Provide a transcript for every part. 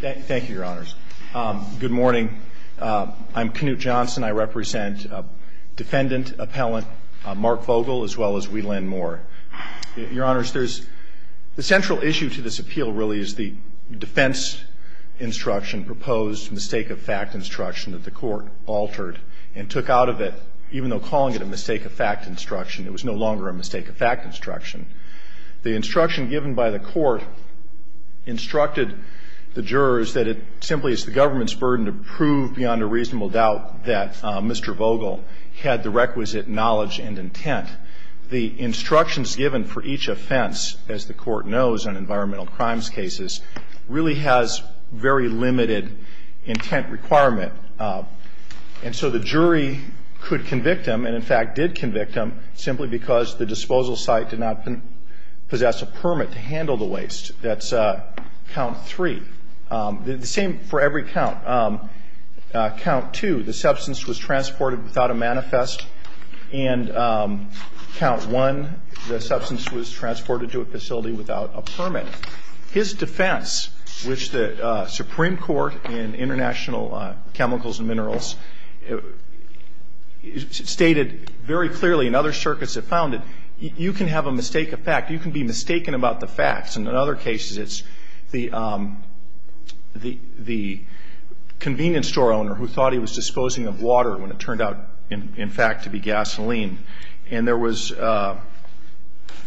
Thank you, your honors. Good morning. I'm Knute Johnson. I represent defendant appellant Marc Vogel, as well as Weyland Moore. Your honors, there's the central issue to this appeal really is the defense instruction, proposed mistake of fact instruction that the court altered and took out of it, even though calling it a mistake of fact instruction. It was no longer a mistake of fact instruction. The instruction given by the court instructed the jurors that it simply is the government's burden to prove beyond a reasonable doubt that Mr. Vogel had the requisite knowledge and intent. The instructions given for each offense, as the court knows on environmental crimes cases, really has very limited intent requirement. And so the jury could convict him and, in fact, did convict him simply because the disposal site did not possess a permit to handle the waste. That's count three. The same for every count. Count two, the substance was transported without a manifest. And count one, the substance was transported to a facility without a permit. His defense, which the Supreme Court in International Chemicals and Minerals stated very clearly, and other circuits have found it, you can have a mistake of fact, you can be mistaken about the facts. And in other cases, it's the convenience store owner who thought he was disposing of water when it turned out, in fact, to be gasoline. And there was,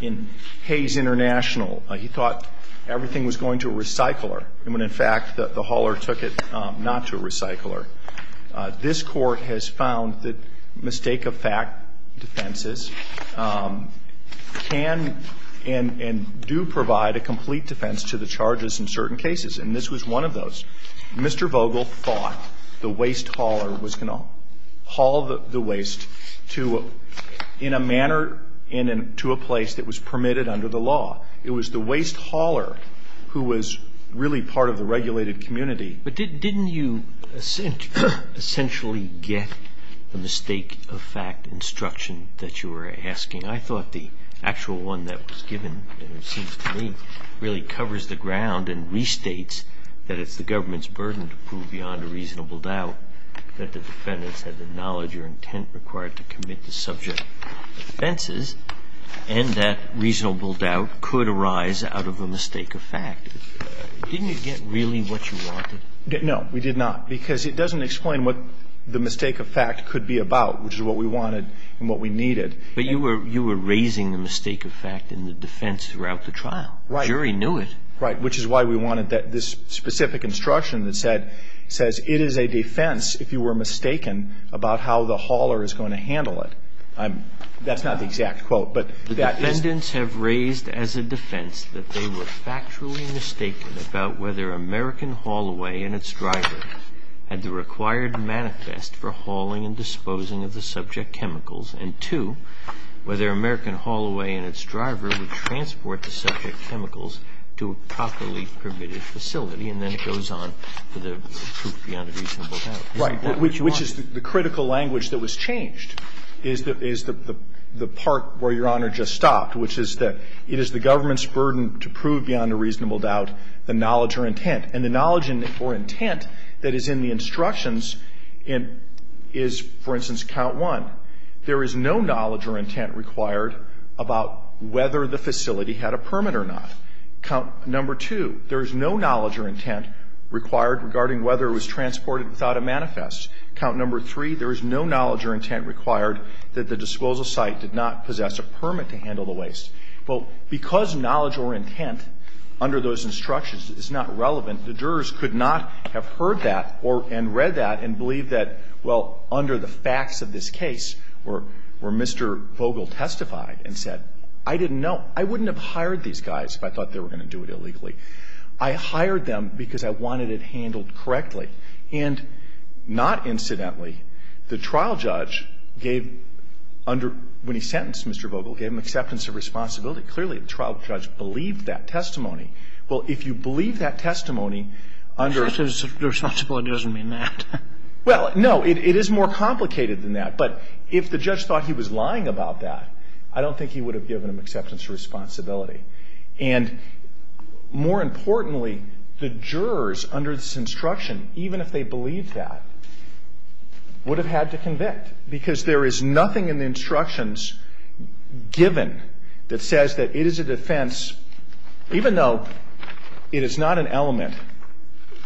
in Hayes International, he thought everything was going to a recycler when, in fact, the hauler took it not to a recycler. This Court has found that mistake-of-fact defenses can and do provide a complete defense to the charges in certain cases, and this was one of those. Mr. Vogel thought the waste hauler was going to haul the waste to, in a manner, to a place that was permitted under the law. It was the waste hauler who was really part of the regulated community. But didn't you essentially get the mistake-of-fact instruction that you were asking? I thought the actual one that was given, it seems to me, really covers the ground and restates that it's the government's burden to prove beyond a reasonable doubt that the defendants had the knowledge or intent required to commit the subject offenses, and that reasonable doubt could arise out of a mistake-of-fact. Didn't you get really what you wanted? No, we did not, because it doesn't explain what the mistake-of-fact could be about, which is what we wanted and what we needed. But you were raising the mistake-of-fact in the defense throughout the trial. Right. The jury knew it. Right, which is why we wanted this specific instruction that says, it is a defense, if you were mistaken, about how the hauler is going to handle it. That's not the exact quote, but that is… The defendants have raised as a defense that they were factually mistaken about whether American Haulaway and its driver had the required manifest for hauling and disposing of the subject chemicals, and two, whether American Haulaway and its driver would transport the subject chemicals to a properly permitted facility, and then it goes on to the proof beyond a reasonable doubt. Right, which is the critical language that was changed, is the part where Your Honor just stopped, which is that it is the government's burden to prove beyond a reasonable doubt the knowledge or intent. That is, in the instructions is, for instance, count one, there is no knowledge or intent required about whether the facility had a permit or not. Count number two, there is no knowledge or intent required regarding whether it was transported without a manifest. Count number three, there is no knowledge or intent required that the disposal site did not possess a permit to handle the waste. Well, because knowledge or intent under those instructions is not relevant, the jurors could not have heard that and read that and believe that, well, under the facts of this case where Mr. Vogel testified and said, I didn't know. I wouldn't have hired these guys if I thought they were going to do it illegally. I hired them because I wanted it handled correctly. And not incidentally, the trial judge gave under – when he sentenced Mr. Vogel, gave him acceptance of responsibility. Clearly, the trial judge believed that testimony. Well, if you believe that testimony under – Justice, responsibility doesn't mean that. Well, no. It is more complicated than that. But if the judge thought he was lying about that, I don't think he would have given him acceptance of responsibility. And more importantly, the jurors under this instruction, even if they believed that, would have had to convict. Because there is nothing in the instructions given that says that it is a defense, even though it is not an element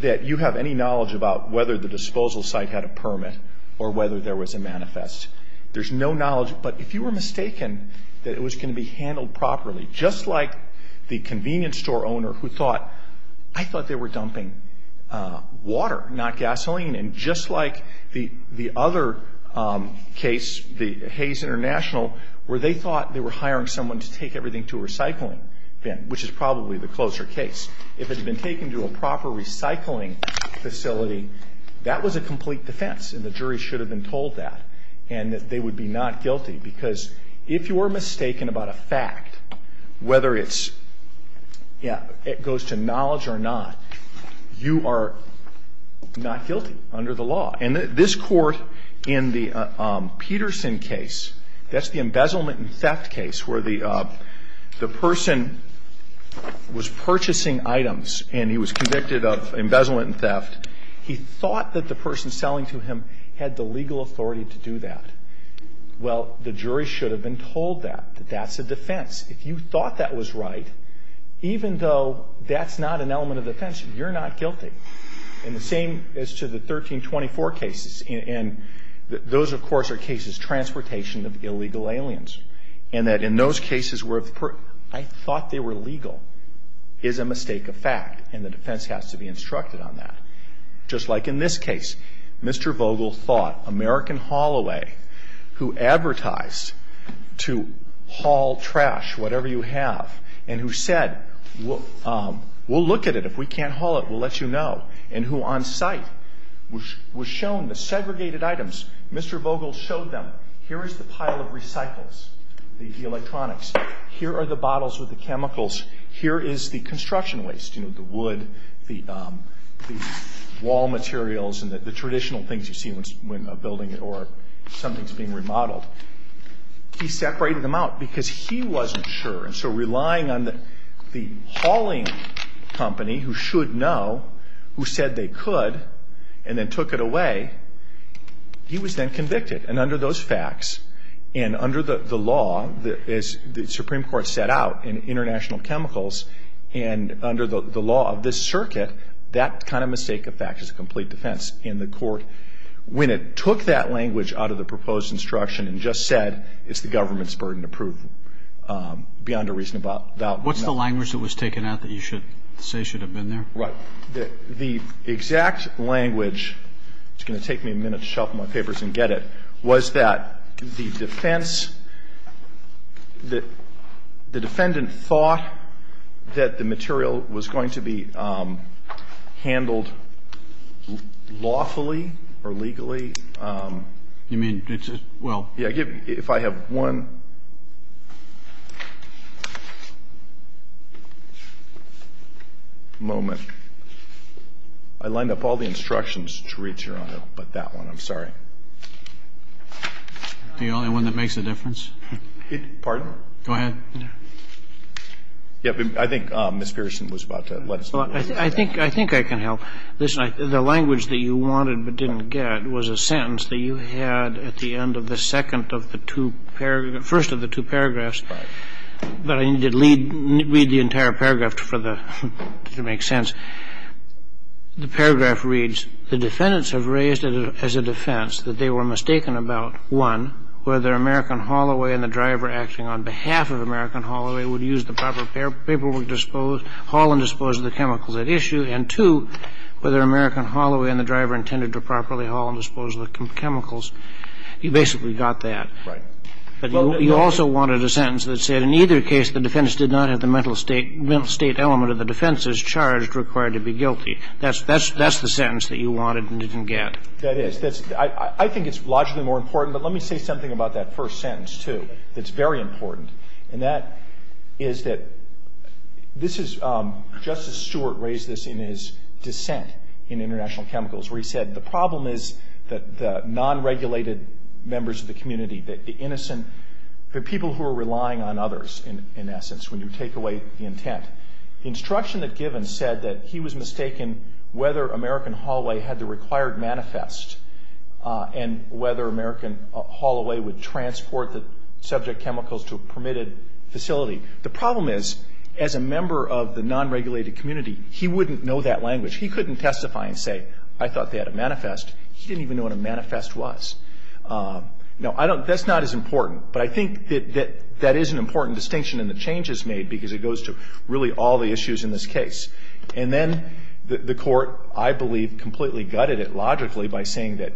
that you have any knowledge about whether the disposal site had a permit or whether there was a manifest. There's no knowledge. But if you were mistaken that it was going to be handled properly, just like the convenience store owner who thought – I thought they were dumping water, not gasoline. And just like the other case, the Hayes International, where they thought they were hiring someone to take everything to a recycling bin, which is probably the closer case. If it had been taken to a proper recycling facility, that was a complete defense, and the jury should have been told that. And that they would be not guilty. Because if you were mistaken about a fact, whether it's – yeah, it goes to knowledge or not, you are not guilty under the law. And this Court, in the Peterson case, that's the embezzlement and theft case, where the person was purchasing items and he was convicted of embezzlement and theft. He thought that the person selling to him had the legal authority to do that. Well, the jury should have been told that. That that's a defense. If you thought that was right, even though that's not an element of defense, you're not guilty. And the same as to the 1324 cases. And those, of course, are cases, transportation of illegal aliens. And that in those cases where I thought they were legal is a mistake of fact. And the defense has to be instructed on that. Just like in this case, Mr. Vogel thought American Holloway, who advertised to haul trash, whatever you have, and who said, we'll look at it. If we can't haul it, we'll let you know. And who on site was shown the segregated items. Mr. Vogel showed them, here is the pile of recycles, the electronics. Here are the bottles with the chemicals. Here is the construction waste, you know, the wood, the wall materials, and the traditional things you see when a building or something is being remodeled. He separated them out because he wasn't sure. And so relying on the hauling company, who should know, who said they could, and then took it away, he was then convicted. And under those facts, and under the law, as the Supreme Court set out in International Chemicals, and under the law of this circuit, that kind of mistake of fact is a complete defense. And the court, when it took that language out of the proposed instruction and just said, it's the government's burden to prove beyond a reasonable doubt. What's the language that was taken out that you should say should have been there? The exact language, it's going to take me a minute to shuffle my papers and get it, was that the defense, the defendant thought that the material was going to be handled lawfully or legally. You mean, well. If I have one moment. I lined up all the instructions to read here on it, but that one, I'm sorry. The only one that makes a difference? Pardon? Go ahead. I think Ms. Pearson was about to let us know. I think I can help. The language that you wanted but didn't get was a sentence that you had at the end of the second of the two, first of the two paragraphs, but I need to read the entire paragraph to make sense. The paragraph reads, The defendants have raised as a defense that they were mistaken about, one, whether American Holloway and the driver acting on behalf of American Holloway would use the proper paperwork to haul and dispose of the chemicals at issue, and two, whether American Holloway and the driver intended to properly haul and dispose of the chemicals. You basically got that. Right. But you also wanted a sentence that said, In either case, the defense did not have the mental state element of the defense as charged required to be guilty. That's the sentence that you wanted and didn't get. That is. I think it's logically more important, but let me say something about that first sentence, too, that's very important. And that is that this is, Justice Stewart raised this in his dissent in International Chemicals, where he said the problem is that the non-regulated members of the community, the innocent, the people who are relying on others, in essence, when you take away the intent. The instruction that's given said that he was mistaken whether American Holloway had the required manifest and whether American Holloway would transport the subject chemicals to a permitted facility. The problem is, as a member of the non-regulated community, he wouldn't know that language. He couldn't testify and say, I thought they had a manifest. He didn't even know what a manifest was. Now, that's not as important, but I think that that is an important distinction in the changes made because it goes to really all the issues in this case. And then the Court, I believe, completely gutted it logically by saying that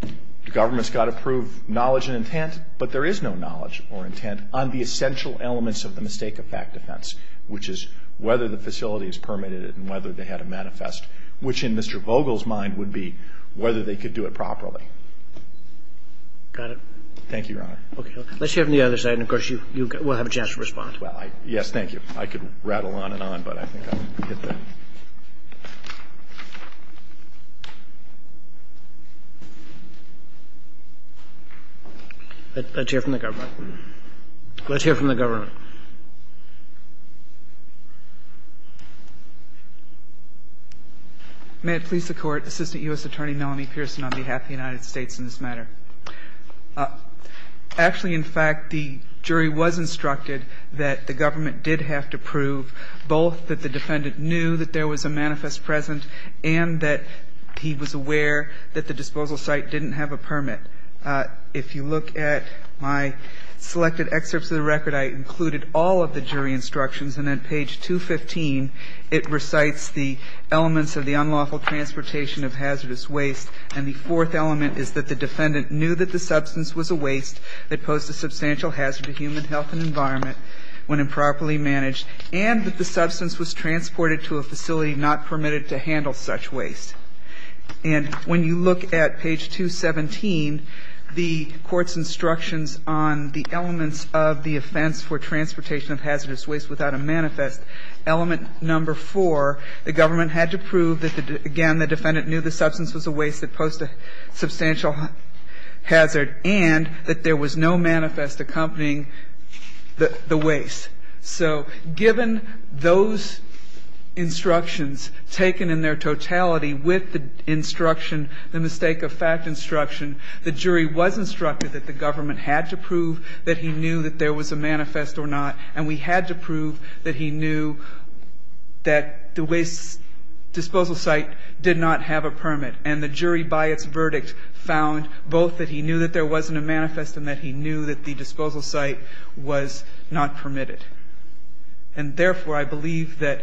the government's got to prove knowledge and intent, but there is no knowledge or intent on the essential elements of the mistake of fact defense, which is whether the facility is permitted and whether they had a manifest, which in Mr. Vogel's mind would be whether they could do it properly. Got it. Thank you, Your Honor. Okay. Let's hear from the other side, and, of course, you will have a chance to respond. Well, yes, thank you. I could rattle on and on, but I think I'll get there. Let's hear from the government. Let's hear from the government. May it please the Court. Assistant U.S. Attorney Melanie Pearson on behalf of the United States in this matter. Actually, in fact, the jury was instructed that the government did have to prove both that the defendant knew that there was a manifest present and that he was aware that the disposal site didn't have a permit. If you look at my selected excerpts of the record, I included all of the jury instructions, and on page 215, it recites the elements of the unlawful transportation of hazardous waste, and the fourth element is that the defendant knew that the substance was a waste that posed a substantial hazard to human health and environment when improperly managed, and that the substance was transported to a facility not permitted to handle such waste. And when you look at page 217, the Court's instructions on the elements of the offense for transportation of hazardous waste without a manifest, element number 4, the government had to prove that, again, the defendant knew the substance was a waste that posed a substantial hazard and that there was no manifest accompanying the waste. So given those instructions taken in their totality with the instruction, the mistake of fact instruction, the jury was instructed that the government had to prove that he knew that there was a manifest or not, and we had to prove that he knew that the waste disposal site did not have a permit. And the jury, by its verdict, found both that he knew that there wasn't a manifest and that he knew that the disposal site was not permitted. And therefore, I believe that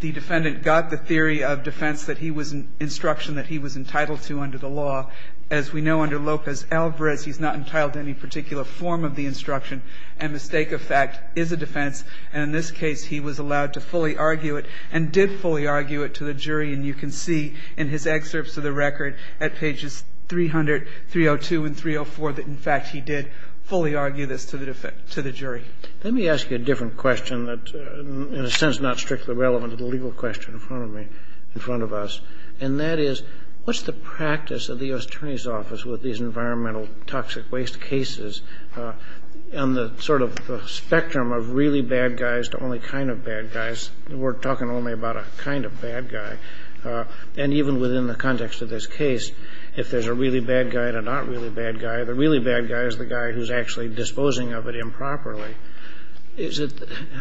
the defendant got the theory of defense that he was in instruction that he was entitled to under the law. As we know, under Lopez-Alvarez, he's not entitled to any particular form of the instruction and mistake of fact is a defense. And in this case, he was allowed to fully argue it and did fully argue it to the jury. And you can see in his excerpts of the record at pages 300, 302, and 304 that, in fact, he did fully argue this to the jury. Kennedy. Let me ask you a different question that, in a sense, is not strictly relevant to the legal question in front of me, in front of us, and that is, what's the practice of the U.S. Attorney's Office with these environmental and toxic waste cases on the sort of spectrum of really bad guys to only kind of bad guys? We're talking only about a kind of bad guy. And even within the context of this case, if there's a really bad guy and a not really bad guy, the really bad guy is the guy who's actually disposing of it improperly.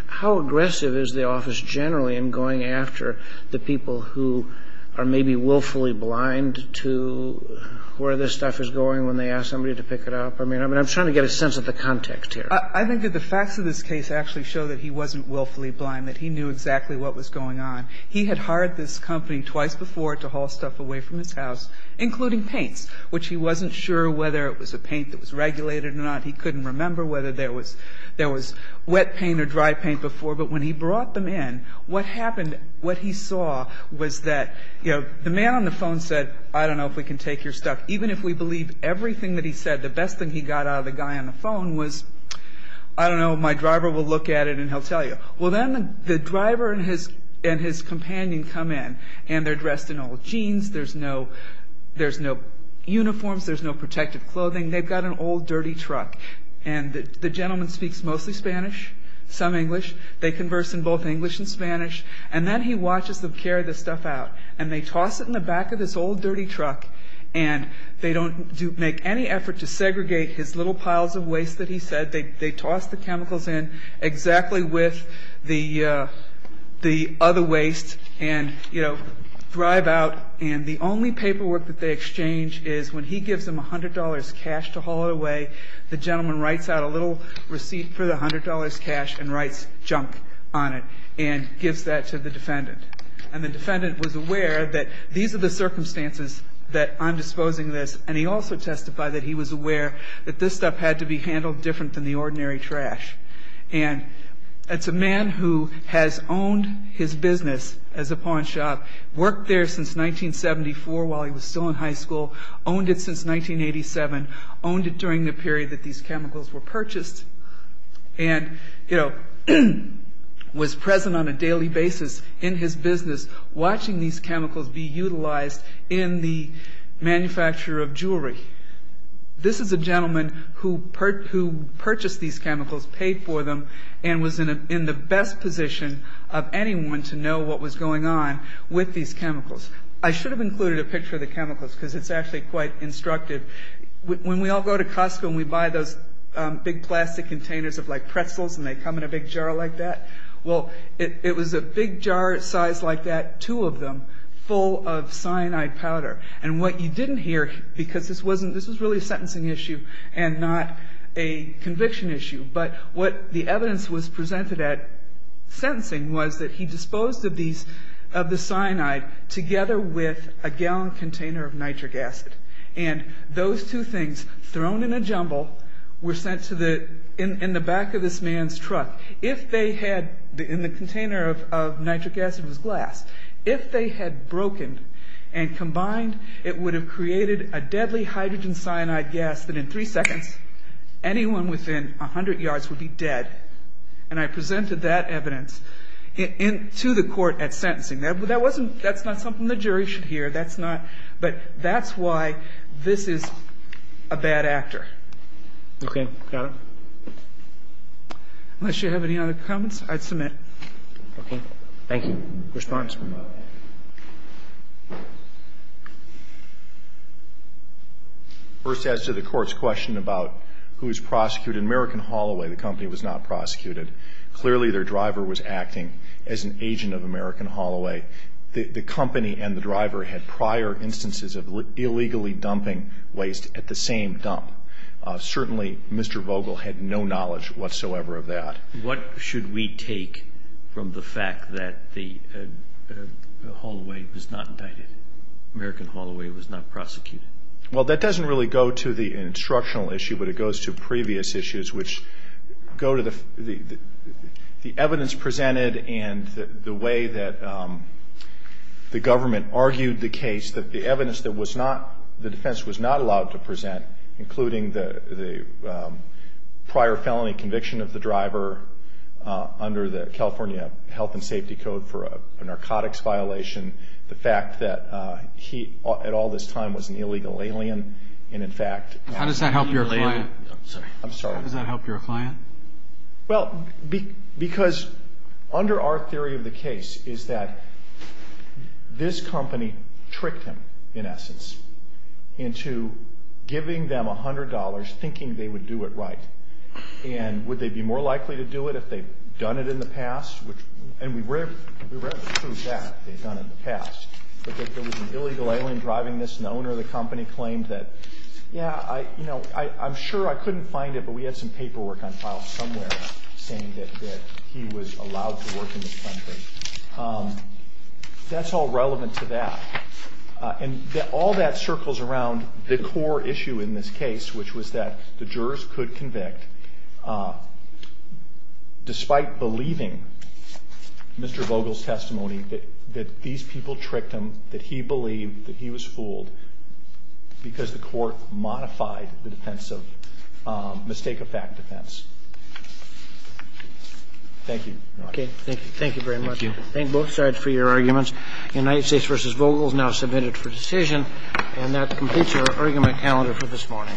How aggressive is the office generally in going after the people who are maybe willfully blind to where this stuff is going when they ask somebody to pick it up? I mean, I'm trying to get a sense of the context here. I think that the facts of this case actually show that he wasn't willfully blind, that he knew exactly what was going on. He had hired this company twice before to haul stuff away from his house, including paints, which he wasn't sure whether it was a paint that was regulated or not. He couldn't remember whether there was wet paint or dry paint before. But when he brought them in, what happened, what he saw was that, you know, the man on the phone said, I don't know if we can take your stuff, even if we believe everything that he said, the best thing he got out of the guy on the phone was, I don't know, my driver will look at it and he'll tell you. Well, then the driver and his companion come in, and they're dressed in old jeans. There's no uniforms. There's no protective clothing. They've got an old, dirty truck. And the gentleman speaks mostly Spanish, some English. They converse in both English and Spanish. And then he watches them carry the stuff out. And they toss it in the back of this old, dirty truck, and they don't make any effort to segregate his little piles of waste that he said. They toss the chemicals in exactly with the other waste and, you know, drive out. And the only paperwork that they exchange is when he gives them $100 cash to haul it away, the gentleman writes out a little receipt for the $100 cash and writes junk on it and gives that to the defendant. And the defendant was aware that these are the circumstances that I'm disposing this. And he also testified that he was aware that this stuff had to be handled different than the ordinary trash. And it's a man who has owned his business as a pawn shop, worked there since 1974 while he was still in high school, owned it since 1987, owned it during the period that these chemicals were purchased, and, you know, was present on a daily basis in his business watching these chemicals be utilized in the manufacture of jewelry. This is a gentleman who purchased these chemicals, paid for them, and was in the best position of anyone to know what was going on with these chemicals. I should have included a picture of the chemicals because it's actually quite instructive. When we all go to Costco and we buy those big plastic containers of, like, pretzels and they come in a big jar like that, well, it was a big jar size like that, two of them, full of cyanide powder. And what you didn't hear, because this was really a sentencing issue and not a conviction issue, but what the evidence was presented at sentencing was that he disposed of the cyanide together with a gallon container of nitric acid. And those two things, thrown in a jumble, were sent in the back of this man's truck. If they had, in the container of nitric acid was glass, if they had broken and combined it would have created a deadly hydrogen cyanide gas that in three seconds anyone within 100 yards would be dead. And I presented that evidence to the court at sentencing. That's not something the jury should hear. But that's why this is a bad actor. Okay. Got it. Unless you have any other comments, I'd submit. Okay. Thank you. Response? First, as to the court's question about who was prosecuted, American Holloway, the company, was not prosecuted. Clearly their driver was acting as an agent of American Holloway. The company and the driver had prior instances of illegally dumping waste at the same dump. Certainly Mr. Vogel had no knowledge whatsoever of that. What should we take from the fact that the Holloway was not indicted, American Holloway was not prosecuted? Well, that doesn't really go to the instructional issue, but it goes to previous issues which go to the evidence presented and the way that the government argued the case, that the evidence that the defense was not allowed to present, including the prior felony conviction of the driver under the California Health and Safety Code for a narcotics violation, the fact that he at all this time was an illegal alien, and in fact- How does that help your client? I'm sorry. How does that help your client? Well, because under our theory of the case is that this company tricked him, in essence, into giving them $100 thinking they would do it right. And would they be more likely to do it if they'd done it in the past? And we rarely prove that they'd done it in the past. But that there was an illegal alien driving this, and the owner of the company claimed that, Yeah, I'm sure I couldn't find it, but we had some paperwork on file somewhere saying that he was allowed to work in this company. That's all relevant to that. And all that circles around the core issue in this case, which was that the jurors could convict, despite believing Mr. Vogel's testimony, that these people tricked him, that he believed, that he was fooled, because the court modified the defense of mistake-of-fact defense. Thank you. Okay. Thank you very much. Thank you. Thank both sides for your arguments. United States v. Vogel is now submitted for decision, and that completes our argument calendar for this morning. All rise. Thank you.